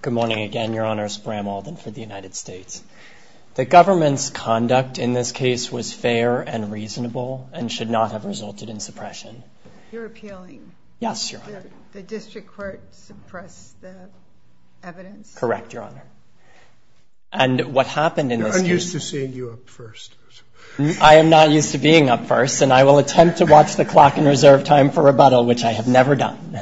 Good morning again, your honors. Bram Alden for the United States. The government's conduct in this case was fair and reasonable and should not have resulted in suppression. You're appealing? Yes, your honor. The district court suppressed the evidence? Correct, your honor. And what happened in this case? I'm used to seeing you up first. I am not used to being up first and I will attempt to watch the clock in reserve time for rebuttal, which I have never done.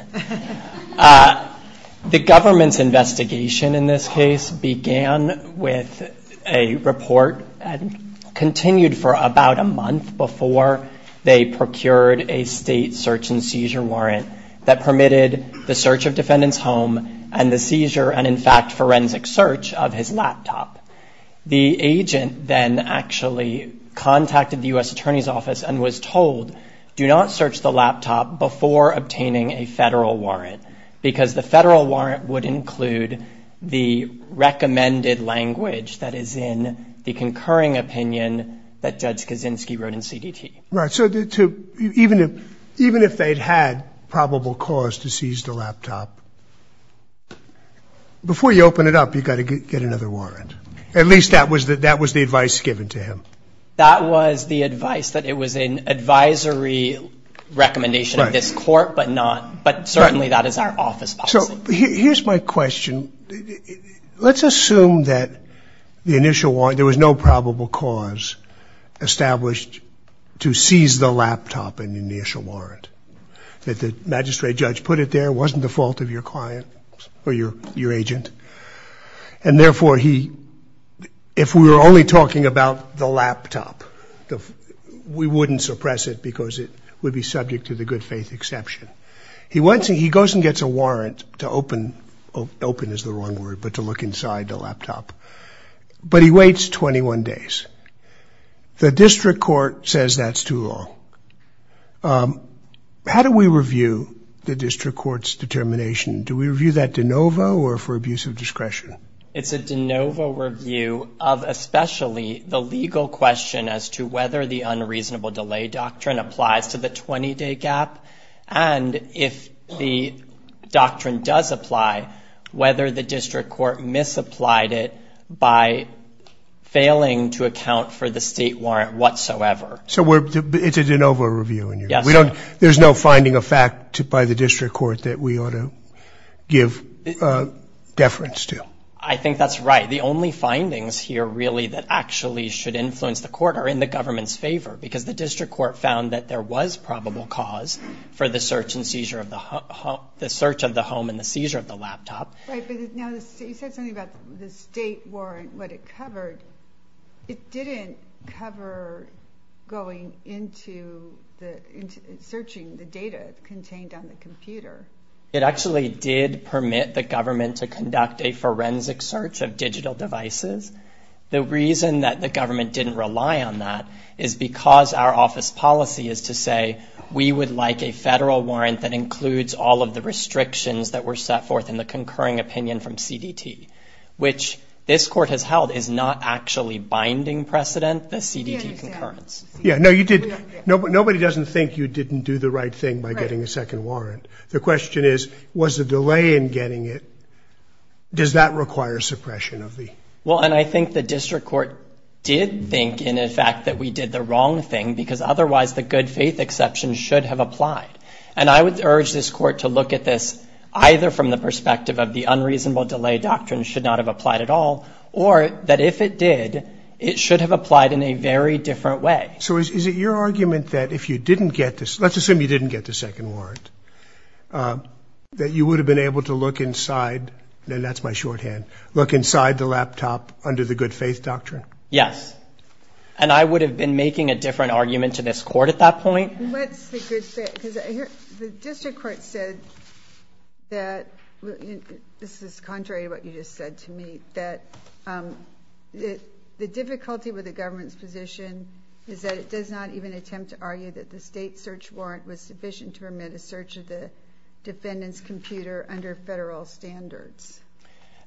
The government's investigation in this case began with a report and continued for about a month before they procured a state search and seizure warrant that permitted the search of defendant's home and the seizure and in fact forensic search of his laptop. The agent then actually contacted the U.S. Attorney's office and told, do not search the laptop before obtaining a federal warrant because the federal warrant would include the recommended language that is in the concurring opinion that Judge Kaczynski wrote in CDT. Right, so even if they'd had probable cause to seize the laptop, before you open it up you've got to get another warrant. At least that was the advice given to him. That was the advice, that it was an advisory recommendation of this court but not, but certainly that is our office policy. So here's my question, let's assume that the initial warrant, there was no probable cause established to seize the laptop in the initial warrant, that the magistrate judge put it there, wasn't the fault of your client or your agent, and therefore he, if we were only talking about the laptop, we wouldn't suppress it because it would be subject to the good faith exception. He goes and gets a warrant to open, open is the wrong word, but to look inside the laptop, but he waits 21 days. The district court says that's too long. How do we review the district court's determination? Do we review that de novo or for abuse of discretion? It's a de novo, the legal question as to whether the unreasonable delay doctrine applies to the 20-day gap, and if the doctrine does apply, whether the district court misapplied it by failing to account for the state warrant whatsoever. So it's a de novo review? Yes. There's no finding of fact by the district court that we ought to give deference to? I think that's right. The only findings here really that actually should influence the court are in the government's favor, because the district court found that there was probable cause for the search and seizure of the home, the search of the home and the seizure of the laptop. You said something about the state warrant, what it covered. It didn't cover going into searching the data contained on the computer. It actually did permit the government to conduct a The reason that the government didn't rely on that is because our office policy is to say we would like a federal warrant that includes all of the restrictions that were set forth in the concurring opinion from CDT, which this court has held is not actually binding precedent, the CDT concurrence. Yeah, no you did, nobody doesn't think you didn't do the right thing by getting a second warrant. The question is, was the delay in getting it, does that require suppression of the... Well, and I think the district court did think in effect that we did the wrong thing, because otherwise the good faith exception should have applied. And I would urge this court to look at this either from the perspective of the unreasonable delay doctrine should not have applied at all, or that if it did, it should have applied in a very different way. So is it your argument that if you didn't get this, let's assume you didn't get the second warrant, that you would have been able to look inside, and that's my shorthand, look inside the laptop under the good faith doctrine? Yes, and I would have been making a different argument to this court at that point. The district court said that, this is contrary to what you just said to me, that the difficulty with the government's position is that it does not even attempt to argue that the state search warrant was sufficient to permit a search of the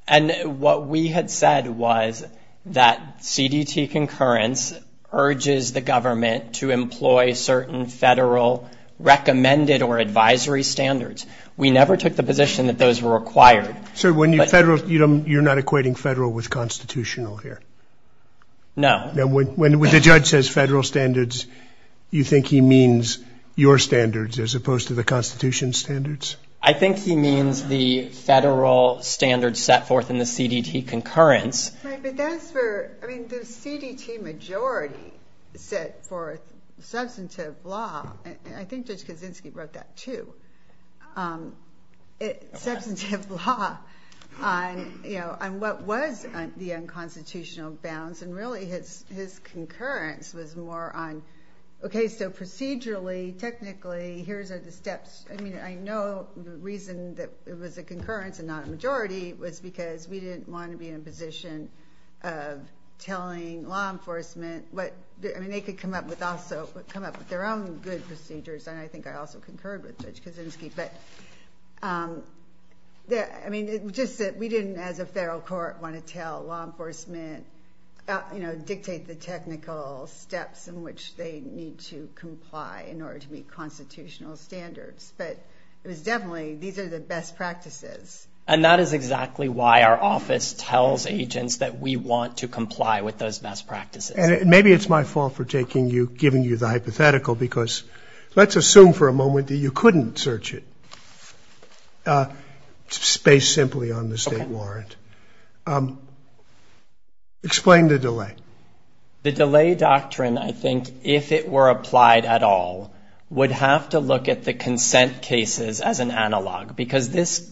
And what we had said was that CDT concurrence urges the government to employ certain federal recommended or advisory standards. We never took the position that those were required. So when you federal, you don't, you're not equating federal with constitutional here? No. Now when the judge says federal standards, you think he means your standards as opposed to the in the CDT concurrence. Right, but that's where, I mean the CDT majority set forth substantive law, and I think Judge Kaczynski wrote that too, substantive law on, you know, on what was the unconstitutional bounds, and really his concurrence was more on, okay, so procedurally, technically, here's are the steps, I mean we didn't want to be in a position of telling law enforcement what, I mean, they could come up with also, come up with their own good procedures, and I think I also concurred with Judge Kaczynski, but yeah, I mean, just that we didn't, as a federal court, want to tell law enforcement, you know, dictate the technical steps in which they need to comply in order to meet constitutional standards, but it was definitely, these are the best practices. And that is exactly why our office tells agents that we want to comply with those best practices. And maybe it's my fault for taking you, giving you the hypothetical, because let's assume for a moment that you couldn't search it, based simply on the state warrant. Explain the delay. The delay doctrine, I think, if it were applied at all, would have to look at the consent cases as an analog, because this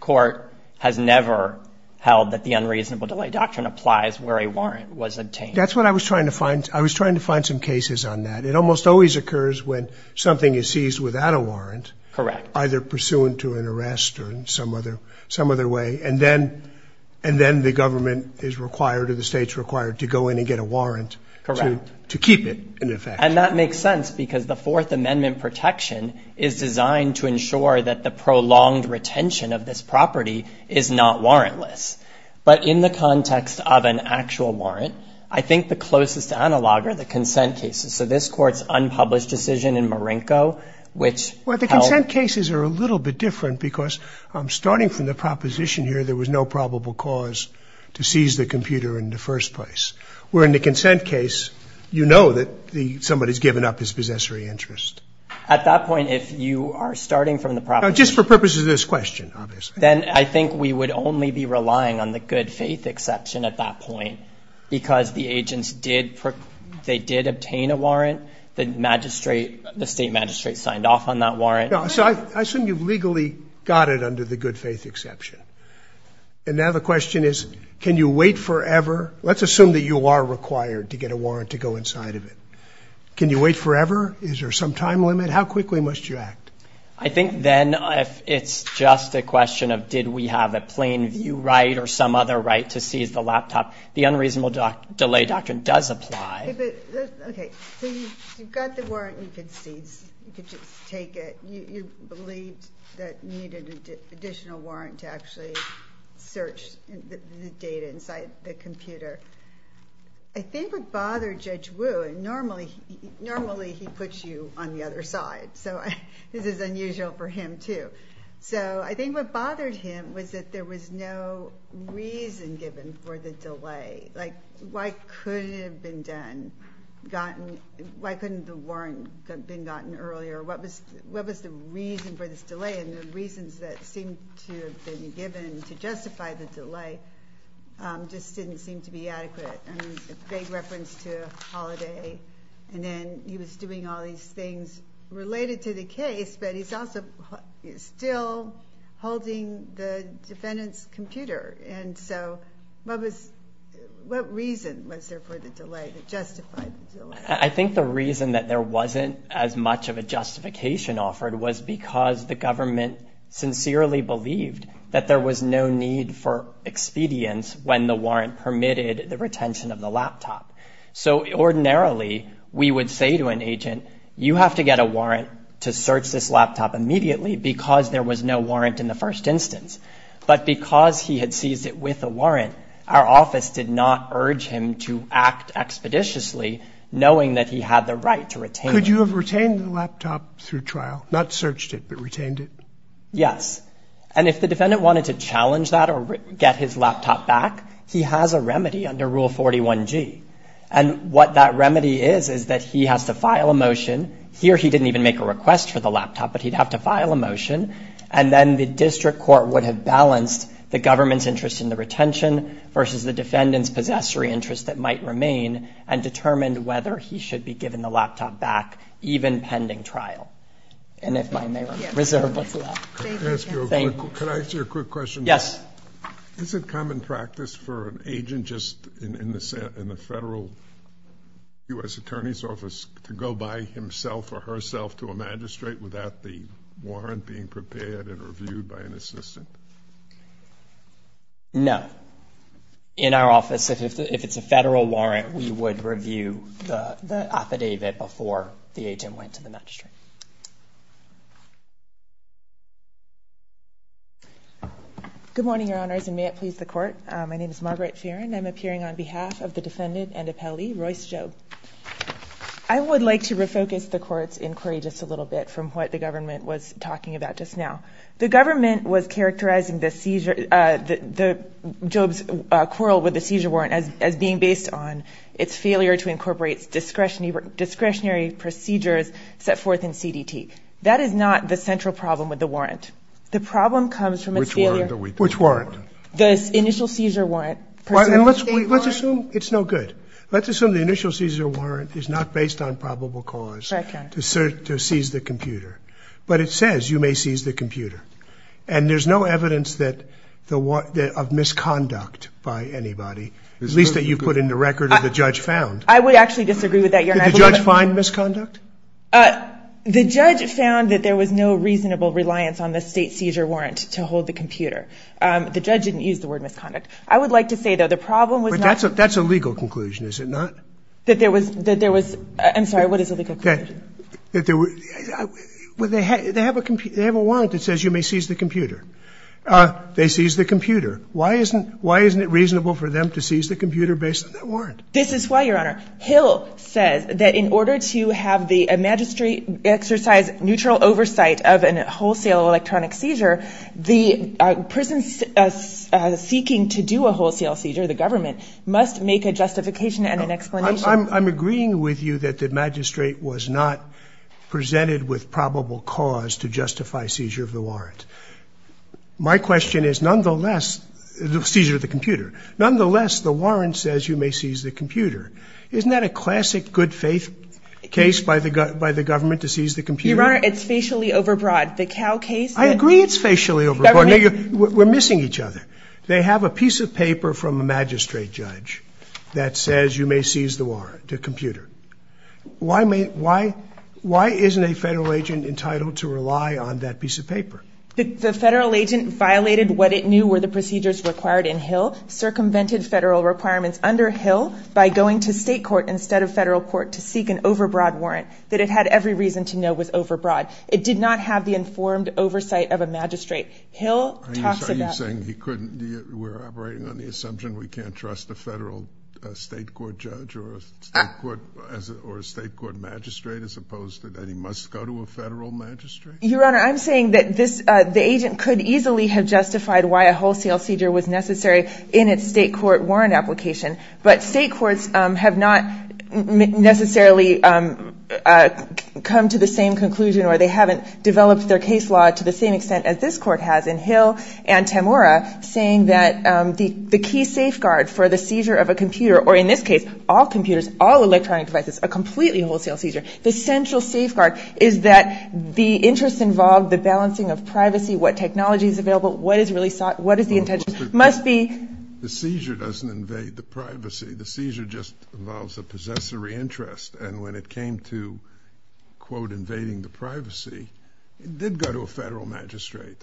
court has never held that the unreasonable delay doctrine applies where a warrant was obtained. That's what I was trying to find, I was trying to find some cases on that. It almost always occurs when something is seized without a warrant. Correct. Either pursuant to an arrest or in some other, some other way, and then, and then the government is required or the state's required to go in and get a warrant. Correct. To keep it in effect. And that makes sense because the Fourth Amendment protection is designed to ensure that the prolonged retention of this property is not warrantless. But in the context of an actual warrant, I think the closest analog are the consent cases. So this court's unpublished decision in Marinko, which held. Well, the consent cases are a little bit different because, starting from the proposition here, there was no probable cause to seize the computer in the first place. Where in the consent case, you know that the, somebody's given up his possessory interest. At that point, if you are starting from the proposition. Just for purposes of this question, obviously. Then I think we would only be relying on the good faith exception at that point. Because the agents did, they did obtain a warrant. The magistrate, the state magistrate signed off on that warrant. So I assume you've legally got it under the good faith exception. And now the question is, can you wait forever? Let's assume that you are required to get a warrant to go inside of it. Can you wait forever? Is there some time limit? How quickly must you act? I think then, if it's just a question of did we have a plain view right or some other right to seize the laptop, the unreasonable delay doctrine does apply. Okay, so you've got the warrant, you could seize, you could just take it. You believed that you needed an additional warrant to actually search the data inside the computer. I think what bothered Judge Wu, and normally he puts you on the other side, so this is unusual for him too. So I think what bothered him was that there was no reason given for the delay. Like why could it have been done, gotten, why couldn't the warrant have been gotten earlier? What was the reason for this delay? And the reasons that seem to have been given to justify the delay just didn't seem to be adequate. And a reference to a holiday, and then he was doing all these things related to the case, but he's also still holding the defendant's computer. And so what was, what reason was there for the delay that justified the delay? I think the reason that there wasn't as much of a justification offered was because the government sincerely believed that there was no need for expedience when the warrant permitted the retention of the laptop. So ordinarily, we would say to an agent, you have to get a warrant to search this laptop immediately because there was no warrant in the first instance. But because he had seized it with a warrant, our office did not urge him to act expeditiously knowing that he had the right to retain it. Could you have retained the laptop through trial? Not searched it, but retained it? Yes, and if the defendant wanted to challenge that or get his laptop back, he has a remedy under Rule 141G. And what that remedy is, is that he has to file a motion. Here, he didn't even make a request for the laptop, but he'd have to file a motion. And then the district court would have balanced the government's interest in the retention versus the defendant's possessory interest that might remain and determined whether he should be given the laptop back, even pending trial. And if I may reserve what's left. Thank you. Can I ask you a quick question? Yes. Is it common practice for an agent just in the federal U.S. Attorney's Office to go by himself or herself to a magistrate without the warrant being prepared and reviewed by an assistant? No. In our office, if it's a federal warrant, we would review the affidavit before the agent went to the magistrate. Good morning, Your Honors, and may it please the Court. My name is Margaret Farren. I'm appearing on behalf of the defendant and appellee, Royce Jobe. I would like to refocus the Court's inquiry just a little bit from what the government was talking about just now. The government was characterizing this seizure, Jobe's quarrel with the seizure warrant, as being based on its failure to incorporate discretionary procedures set forth in CDT. That is not the central problem with the warrant. The problem comes from its failure. Which warrant? The initial seizure warrant. Let's assume it's no good. Let's assume the initial seizure warrant is not based on probable cause to seize the computer. But it says you may seize the computer, and there's no evidence of misconduct by anybody, at least that you've put in the record that the judge found. I would actually disagree with that, Your Honor. Did the judge find misconduct? The judge found that there was no reasonable reliance on the state seizure warrant to hold the computer. The judge didn't use the word misconduct. I would like to say, though, the problem was not But that's a legal conclusion, is it not? That there was – I'm sorry, what is a legal conclusion? That there were – well, they have a warrant that says you may seize the computer. They seized the computer. Why isn't it reasonable for them to seize the computer based on that I'm agreeing with you that the magistrate was not presented with probable cause to justify seizure of the warrant. My question is, nonetheless – seizure of the computer – nonetheless, the warrant says you may seize the computer. Isn't that a classic good-faith case by the government to seize the computer? Your Honor, it's facially overbroad. The Cow case – I agree it's facially overbroad. We're missing each other. They have a piece of paper from a magistrate judge that says you may seize the warrant, the computer. Why isn't a federal agent entitled to rely on that piece of paper? The federal agent violated what it knew were the procedures required in Hill, circumvented federal requirements under Hill by going to state court instead of federal court to seek an overbroad warrant that it had every reason to know was overbroad. It did not have the informed oversight of a magistrate. Hill talks about – Are you saying he couldn't – we're operating on the assumption we can't trust a federal state court judge or a state court magistrate as opposed to that he must go to a federal magistrate? Your Honor, I'm saying that this – the agent could easily have justified why a wholesale seizure was necessary in its state court warrant application, but state courts have not necessarily come to the same conclusion or they haven't developed their case law to the same extent as this court has in Hill and Temura, saying that the key safeguard for the seizure of a computer – or in this case, all computers, all electronic devices – a completely wholesale seizure. The central safeguard is that the interest involved, the balancing of privacy, what technology is really sought, what is the intention – must be – The seizure doesn't invade the privacy. The seizure just involves a possessory interest. And when it came to, quote, invading the privacy, it did go to a federal magistrate.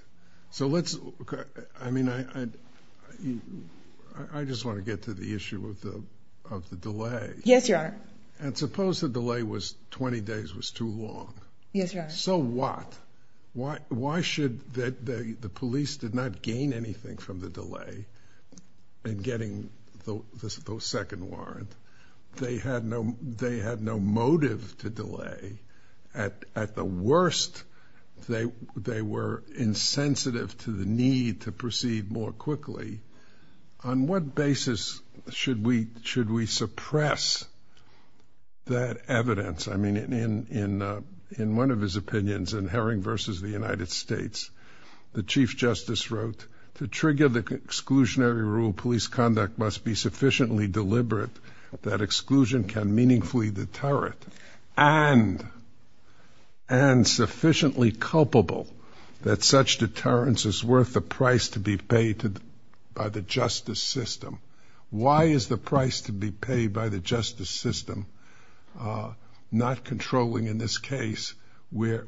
So let's – I mean, I just want to get to the issue of the delay. Yes, Your Honor. And suppose the delay was 20 days was too long. Yes, Your Honor. So what? Why should – the police did not gain anything from the delay in getting the second warrant. They had no motive to delay. At the worst, they were insensitive to the need to proceed more quickly. On what basis should we suppress that evidence? I mean, in one of his opinions, in Herring v. The United States, the Chief Justice wrote, to trigger the exclusionary rule, police conduct must be sufficiently deliberate that exclusion can meaningfully deter it. And sufficiently culpable that such deterrence is worth the price to be paid by the justice system. Why is the price to be paid by the justice system not controlling, in this case, where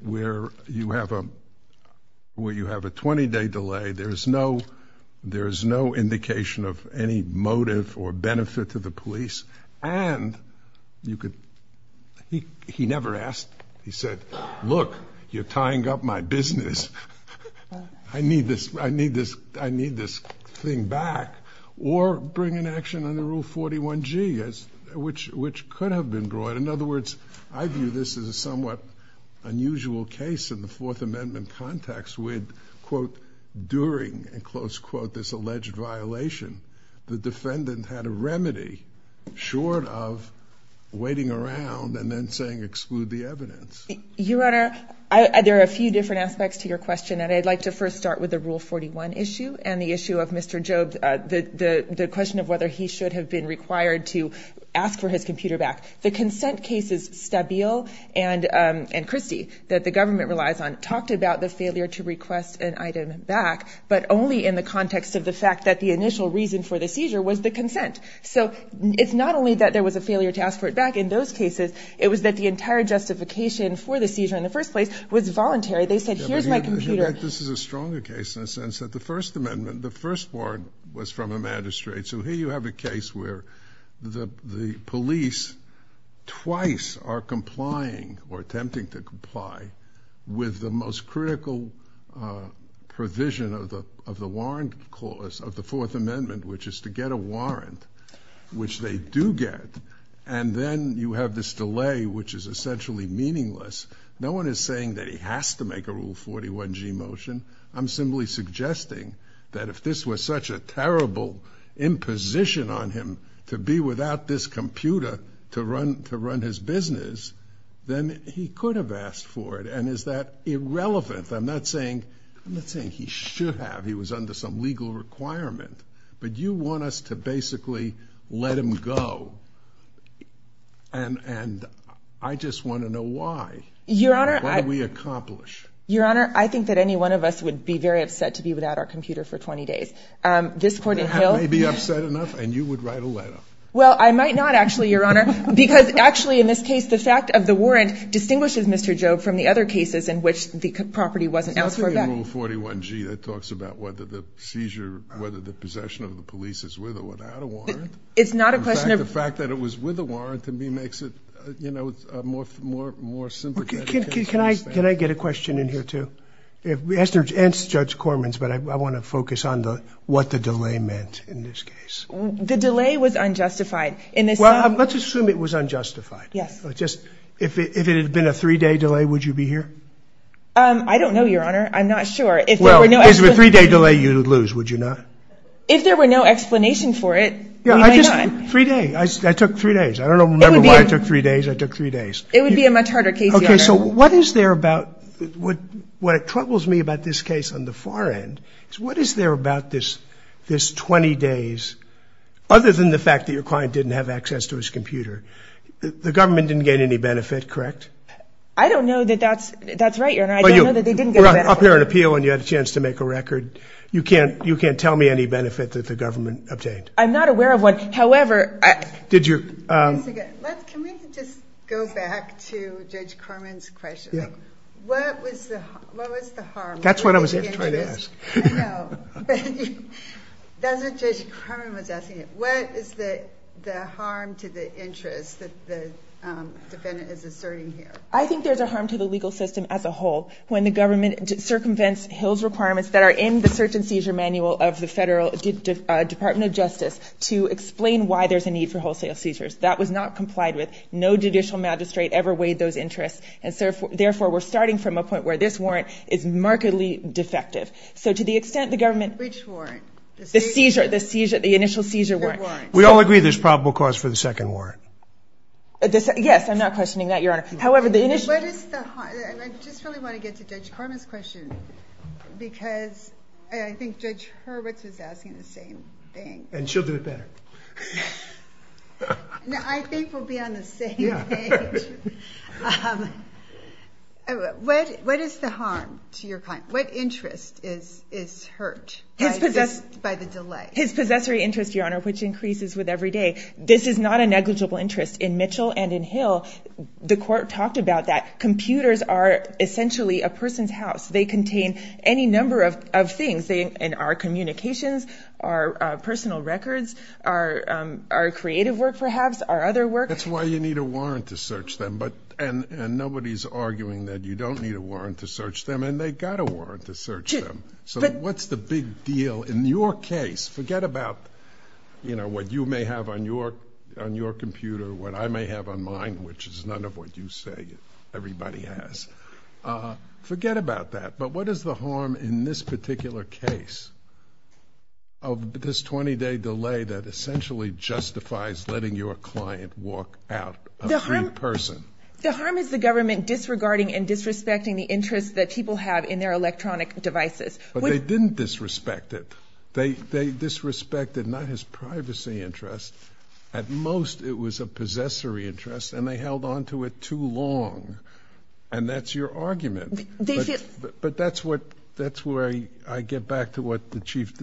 you have a 20-day delay, there is no indication of any motive or benefit to the police, and you could – he never asked. He said, look, you're tying up my business. I need this thing back. Or bring an action under Rule 41G, which could have been brought. But in other words, I view this as a somewhat unusual case in the Fourth Amendment context with, quote, during, in close quote, this alleged violation, the defendant had a remedy short of waiting around and then saying exclude the evidence. Your Honor, there are a few different aspects to your question, and I'd like to first start with the Rule 41 issue and the issue of Mr. Jobes, the question of whether he should have been required to ask for his computer back. The consent cases Stabile and Christie that the government relies on talked about the failure to request an item back, but only in the context of the fact that the initial reason for the seizure was the consent. So it's not only that there was a failure to ask for it back in those cases. It was that the entire justification for the seizure in the first place was voluntary. They said, here's my computer. Your Honor, in fact, this is a stronger case in the sense that the First Amendment, the first warrant was from a magistrate. So here you have a case where the police twice are complying or attempting to comply with the most critical provision of the warrant clause of the Fourth Amendment, which is to get a warrant, which they do get, and then you have this delay, which is essentially meaningless. No one is saying that he has to make a Rule 41G motion. I'm simply suggesting that if this was such a terrible imposition on him to be without this computer to run his business, then he could have asked for it. And is that irrelevant? I'm not saying he should have. He was under some legal requirement. But you want us to basically let him go, and I just want to know why. Your Honor. Why did we accomplish? Your Honor, I think that any one of us would be very upset to be without our computer for 20 days. This Court in Hale. I may be upset enough, and you would write a letter. Well, I might not actually, Your Honor, because actually in this case, the fact of the warrant distinguishes Mr. Jobe from the other cases in which the property wasn't asked for. It's not really a Rule 41G that talks about whether the seizure, whether the possession of the police is with or without a warrant. It's not a question of. In fact, the fact that it was with a warrant to me makes it, you know, more sympathetic. Can I get a question in here, too? Answer Judge Corman's, but I want to focus on what the delay meant in this case. The delay was unjustified. Well, let's assume it was unjustified. Yes. If it had been a three-day delay, would you be here? I don't know, Your Honor. I'm not sure. Well, if it was a three-day delay, you would lose, would you not? If there were no explanation for it, we might not. Three days. I took three days. I don't remember why I took three days. I took three days. It would be a much harder case, Your Honor. Okay. So what is there about what troubles me about this case on the far end is what is there about this 20 days, other than the fact that your client didn't have access to his computer? The government didn't gain any benefit, correct? I don't know that that's right, Your Honor. I don't know that they didn't get any benefit. Well, you were up here on appeal and you had a chance to make a record. You can't tell me any benefit that the government obtained. I'm not aware of one. However, I – Did you – Can we just go back to Judge Corman's question? What was the harm? That's what I was going to try to ask. I know. That's what Judge Corman was asking. What is the harm to the interest that the defendant is asserting here? I think there's a harm to the legal system as a whole when the government circumvents Hill's requirements that are in the search and seizure manual of the Federal Department of Justice to explain why there's a need for wholesale seizures. That was not complied with. No judicial magistrate ever weighed those interests, and therefore we're starting from a point where this warrant is markedly defective. So to the extent the government – Which warrant? The seizure. The seizure. The initial seizure warrant. We all agree there's probable cause for the second warrant. Yes, I'm not questioning that, Your Honor. However, the initial – What is the – I just really want to get to Judge Corman's question because I think Judge Hurwitz was asking the same thing. And she'll do it better. I think we'll be on the same page. What is the harm to your client? What interest is hurt by the delay? His possessory interest, Your Honor, which increases with every day. This is not a negligible interest. In Mitchell and in Hill, the court talked about that. Computers are essentially a person's house. They contain any number of things. Our communications, our personal records, our creative work perhaps, our other work. That's why you need a warrant to search them. And nobody's arguing that you don't need a warrant to search them, and they've got a warrant to search them. So what's the big deal? In your case, forget about what you may have on your computer, what I may have on mine, which is none of what you say everybody has. Forget about that. But what is the harm in this particular case of this 20-day delay that essentially justifies letting your client walk out a free person? The harm is the government disregarding and disrespecting the interest that people have in their electronic devices. But they didn't disrespect it. They disrespected not his privacy interest. At most, it was a possessory interest, and they held onto it too long. And that's your argument. But that's where I get back to what the Chief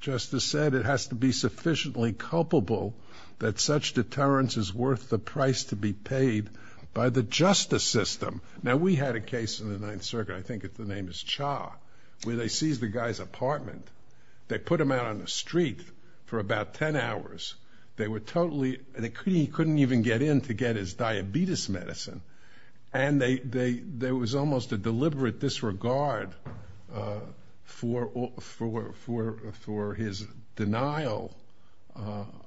Justice said. It has to be sufficiently culpable that such deterrence is worth the price to be paid by the justice system. Now, we had a case in the Ninth Circuit, I think the name is Cha, where they seized the guy's apartment. They put him out on the street for about 10 hours. They were totally, he couldn't even get in to get his diabetes medicine. And there was almost a deliberate disregard for his denial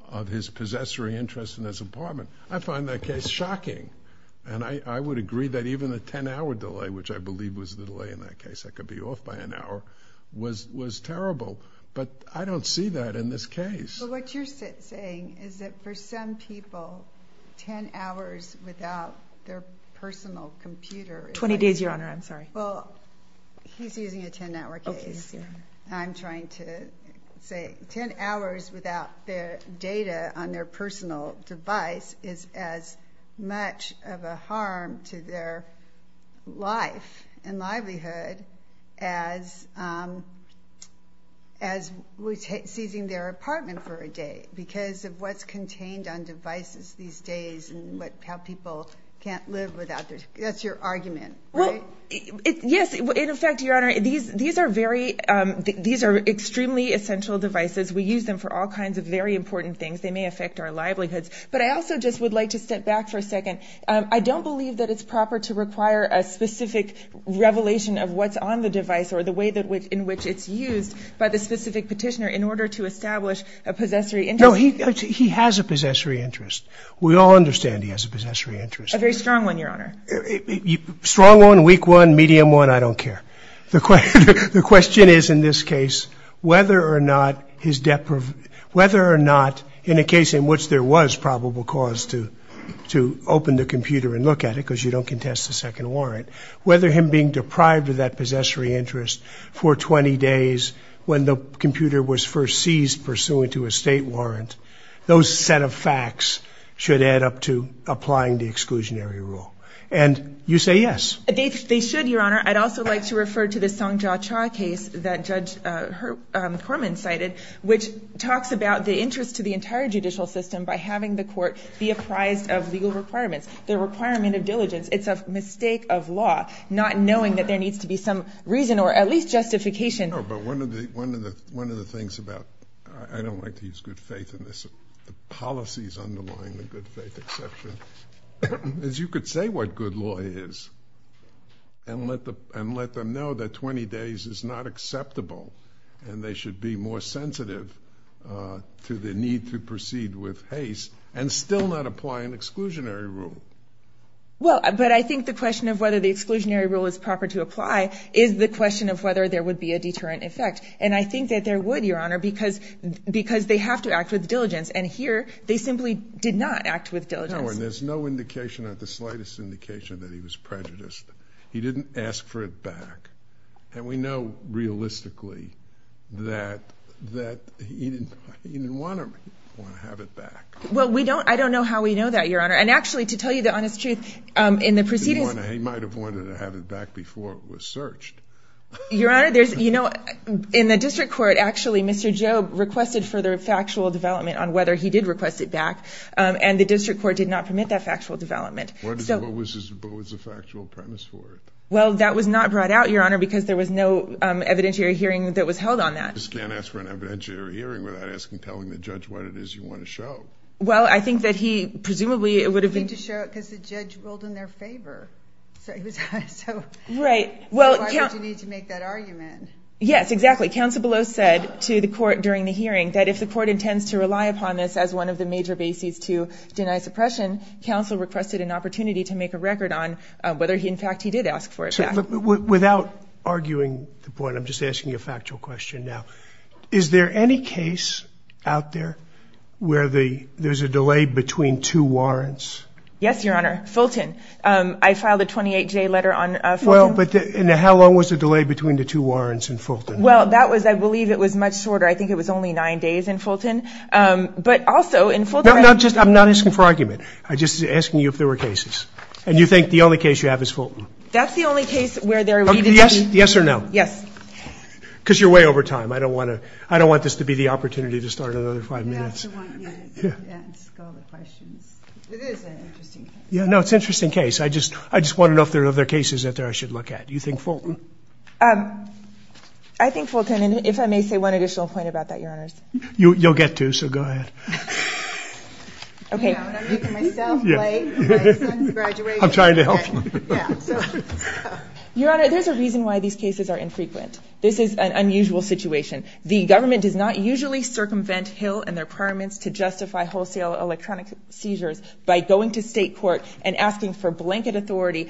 of his possessory interest in his apartment. I find that case shocking. And I would agree that even a 10-hour delay, which I believe was the delay in that case, that could be off by an hour, was terrible. But I don't see that in this case. But what you're saying is that for some people, 10 hours without their personal computer. 20 days, Your Honor. I'm sorry. Well, he's using a 10-hour case. I'm trying to say 10 hours without their data on their personal device is as much of a harm to their life and livelihood as seizing their apartment for a day. Because of what's contained on devices these days and how people can't live without their, that's your argument, right? Yes, in effect, Your Honor, these are extremely essential devices. We use them for all kinds of very important things. They may affect our livelihoods. But I also just would like to step back for a second. I don't believe that it's proper to require a specific revelation of what's on the device or the way in which it's used by the specific petitioner in order to establish a possessory interest. No, he has a possessory interest. We all understand he has a possessory interest. A very strong one, Your Honor. Strong one, weak one, medium one, I don't care. The question is, in this case, whether or not in a case in which there was probable cause to open the computer and look at it because you don't contest a second warrant, whether him being deprived of that possessory interest for 20 days when the computer was first seized pursuant to a state warrant, those set of facts should add up to applying the exclusionary rule. And you say yes. They should, Your Honor. I'd also like to refer to the Song Ja Cha case that Judge Corman cited, which talks about the interest to the entire judicial system by having the court be apprised of legal requirements, the requirement of diligence. It's a mistake of law not knowing that there needs to be some reason or at least justification. No, but one of the things about – I don't like to use good faith in this. The policies underlying the good faith exception. As you could say what good law is and let them know that 20 days is not acceptable and they should be more sensitive to the need to proceed with haste and still not apply an exclusionary rule. Well, but I think the question of whether the exclusionary rule is proper to apply is the question of whether there would be a deterrent effect. And I think that there would, Your Honor, because they have to act with diligence. And here, they simply did not act with diligence. No, and there's no indication at the slightest indication that he was prejudiced. He didn't ask for it back. And we know realistically that he didn't want to have it back. Well, we don't – I don't know how we know that, Your Honor. And actually, to tell you the honest truth, in the proceedings – He might have wanted to have it back before it was searched. Your Honor, there's – you know, in the district court, actually, Mr. Jobe requested further factual development on whether he did request it back. And the district court did not permit that factual development. What was the factual premise for it? Well, that was not brought out, Your Honor, because there was no evidentiary hearing that was held on that. You just can't ask for an evidentiary hearing without asking, telling the judge what it is you want to show. Well, I think that he presumably would have been – You need to show it because the judge ruled in their favor. So he was – so why would you need to make that argument? Yes, exactly. Counsel Belos said to the court during the hearing that if the court intends to rely upon this as one of the major bases to deny suppression, counsel requested an opportunity to make a record on whether, in fact, he did ask for it back. Without arguing the point, I'm just asking you a factual question now. Is there any case out there where there's a delay between two warrants? Yes, Your Honor. Fulton. I filed a 28-J letter on Fulton. Well, but – and how long was the delay between the two warrants in Fulton? Well, that was – I believe it was much shorter. I think it was only nine days in Fulton. But also in Fulton – No, no, just – I'm not asking for argument. I'm just asking you if there were cases. And you think the only case you have is Fulton? That's the only case where there needed to be – Yes or no? Yes. Because you're way over time. I don't want to – I don't want this to be the opportunity to start another five minutes. You have to ask all the questions. It is an interesting case. No, it's an interesting case. I just want to know if there are other cases out there I should look at. Do you think Fulton? I think Fulton. And if I may say one additional point about that, Your Honors. You'll get to, so go ahead. Okay. I'm making myself late. My son's graduating. I'm trying to help him. Yeah, so. Your Honor, there's a reason why these cases are infrequent. This is an unusual situation. The government does not usually circumvent Hill and their permits to justify wholesale electronic seizures by going to state court and asking for blanket or why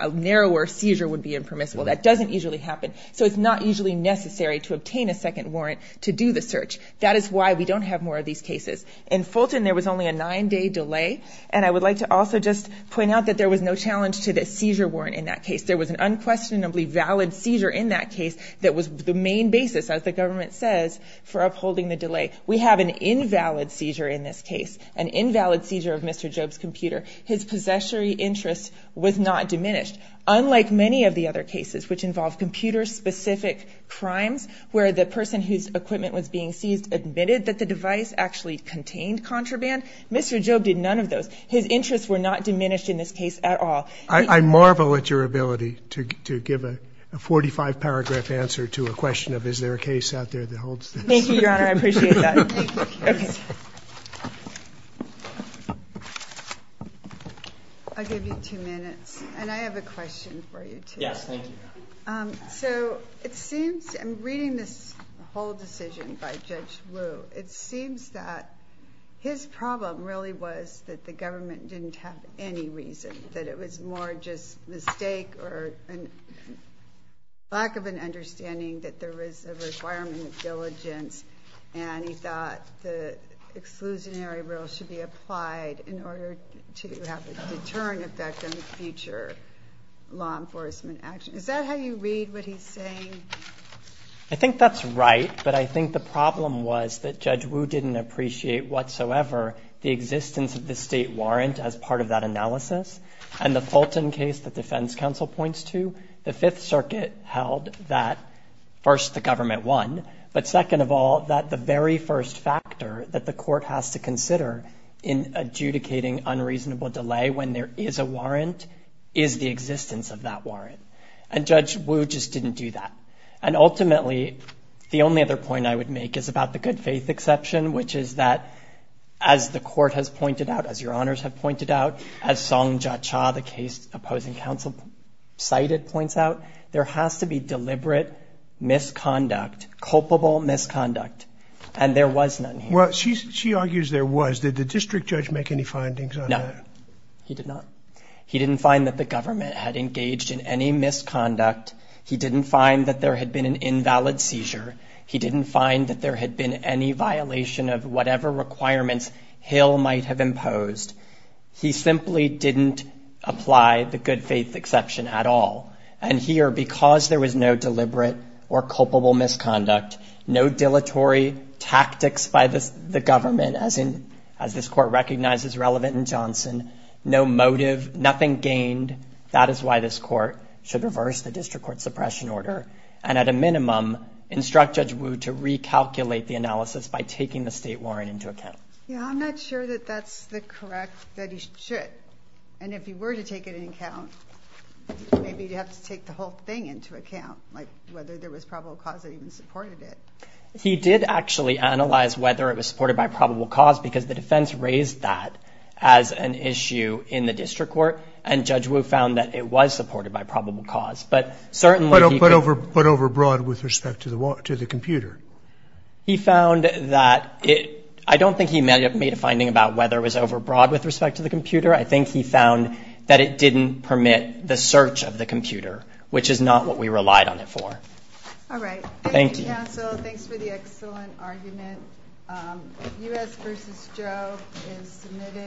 a narrower seizure would be impermissible. That doesn't usually happen. So it's not usually necessary to obtain a second warrant to do the search. That is why we don't have more of these cases. In Fulton, there was only a nine-day delay, and I would like to also just point out that there was no challenge to the seizure warrant in that case. There was an unquestionably valid seizure in that case that was the main basis, as the government says, for upholding the delay. We have an invalid seizure in this case, an invalid seizure of Mr. Job's computer. His possessory interest was not diminished. Unlike many of the other cases which involve computer-specific crimes where the person whose equipment was being seized admitted that the device actually contained contraband, Mr. Job did none of those. His interests were not diminished in this case at all. I marvel at your ability to give a 45-paragraph answer to a question of is there a case out there that holds this. Thank you, Your Honor. I appreciate that. Thank you. I'll give you two minutes, and I have a question for you, too. Yes, thank you. So it seems in reading this whole decision by Judge Wu, it seems that his problem really was that the government didn't have any reason, that it was more just mistake or lack of an understanding that there was a requirement of diligence, and he thought the exclusionary rule should be applied in order to have a deterrent effect on future law enforcement action. Is that how you read what he's saying? I think that's right, but I think the problem was that Judge Wu didn't appreciate whatsoever the existence of the state warrant as part of that analysis, and the Fulton case that defense counsel points to, the Fifth Circuit held that, first, the government won, but second of all, that the very first factor that the court has to consider in adjudicating unreasonable delay when there is a warrant is the existence of that warrant. And Judge Wu just didn't do that. And ultimately, the only other point I would make is about the good faith exception, which is that, as the court has pointed out, as Your Honors have pointed out, as Song Jia Cha, the case opposing counsel cited, points out, there has to be deliberate misconduct, culpable misconduct, and there was none here. Well, she argues there was. Did the district judge make any findings on that? No, he did not. He didn't find that the government had engaged in any misconduct. He didn't find that there had been an invalid seizure. He didn't find that there had been any violation of whatever requirements Hill might have imposed. He simply didn't apply the good faith exception at all, and here, because there was no deliberate or culpable misconduct, no dilatory tactics by the government, as this court recognizes relevant in Johnson, no motive, nothing gained. That is why this court should reverse the district court suppression order and, at a minimum, instruct Judge Wu to recalculate the analysis by taking the state warrant into account. Yeah, I'm not sure that that's the correct that he should. And if he were to take it into account, maybe he'd have to take the whole thing into account, like whether there was probable cause that even supported it. He did actually analyze whether it was supported by probable cause because the defense raised that as an issue in the district court, and Judge Wu found that it was supported by probable cause. But certainly he could – But over broad with respect to the computer. I think he found that it didn't permit the search of the computer, which is not what we relied on it for. All right. Thank you. Thank you, counsel. Thanks for the excellent argument. U.S. v. Joe is submitted.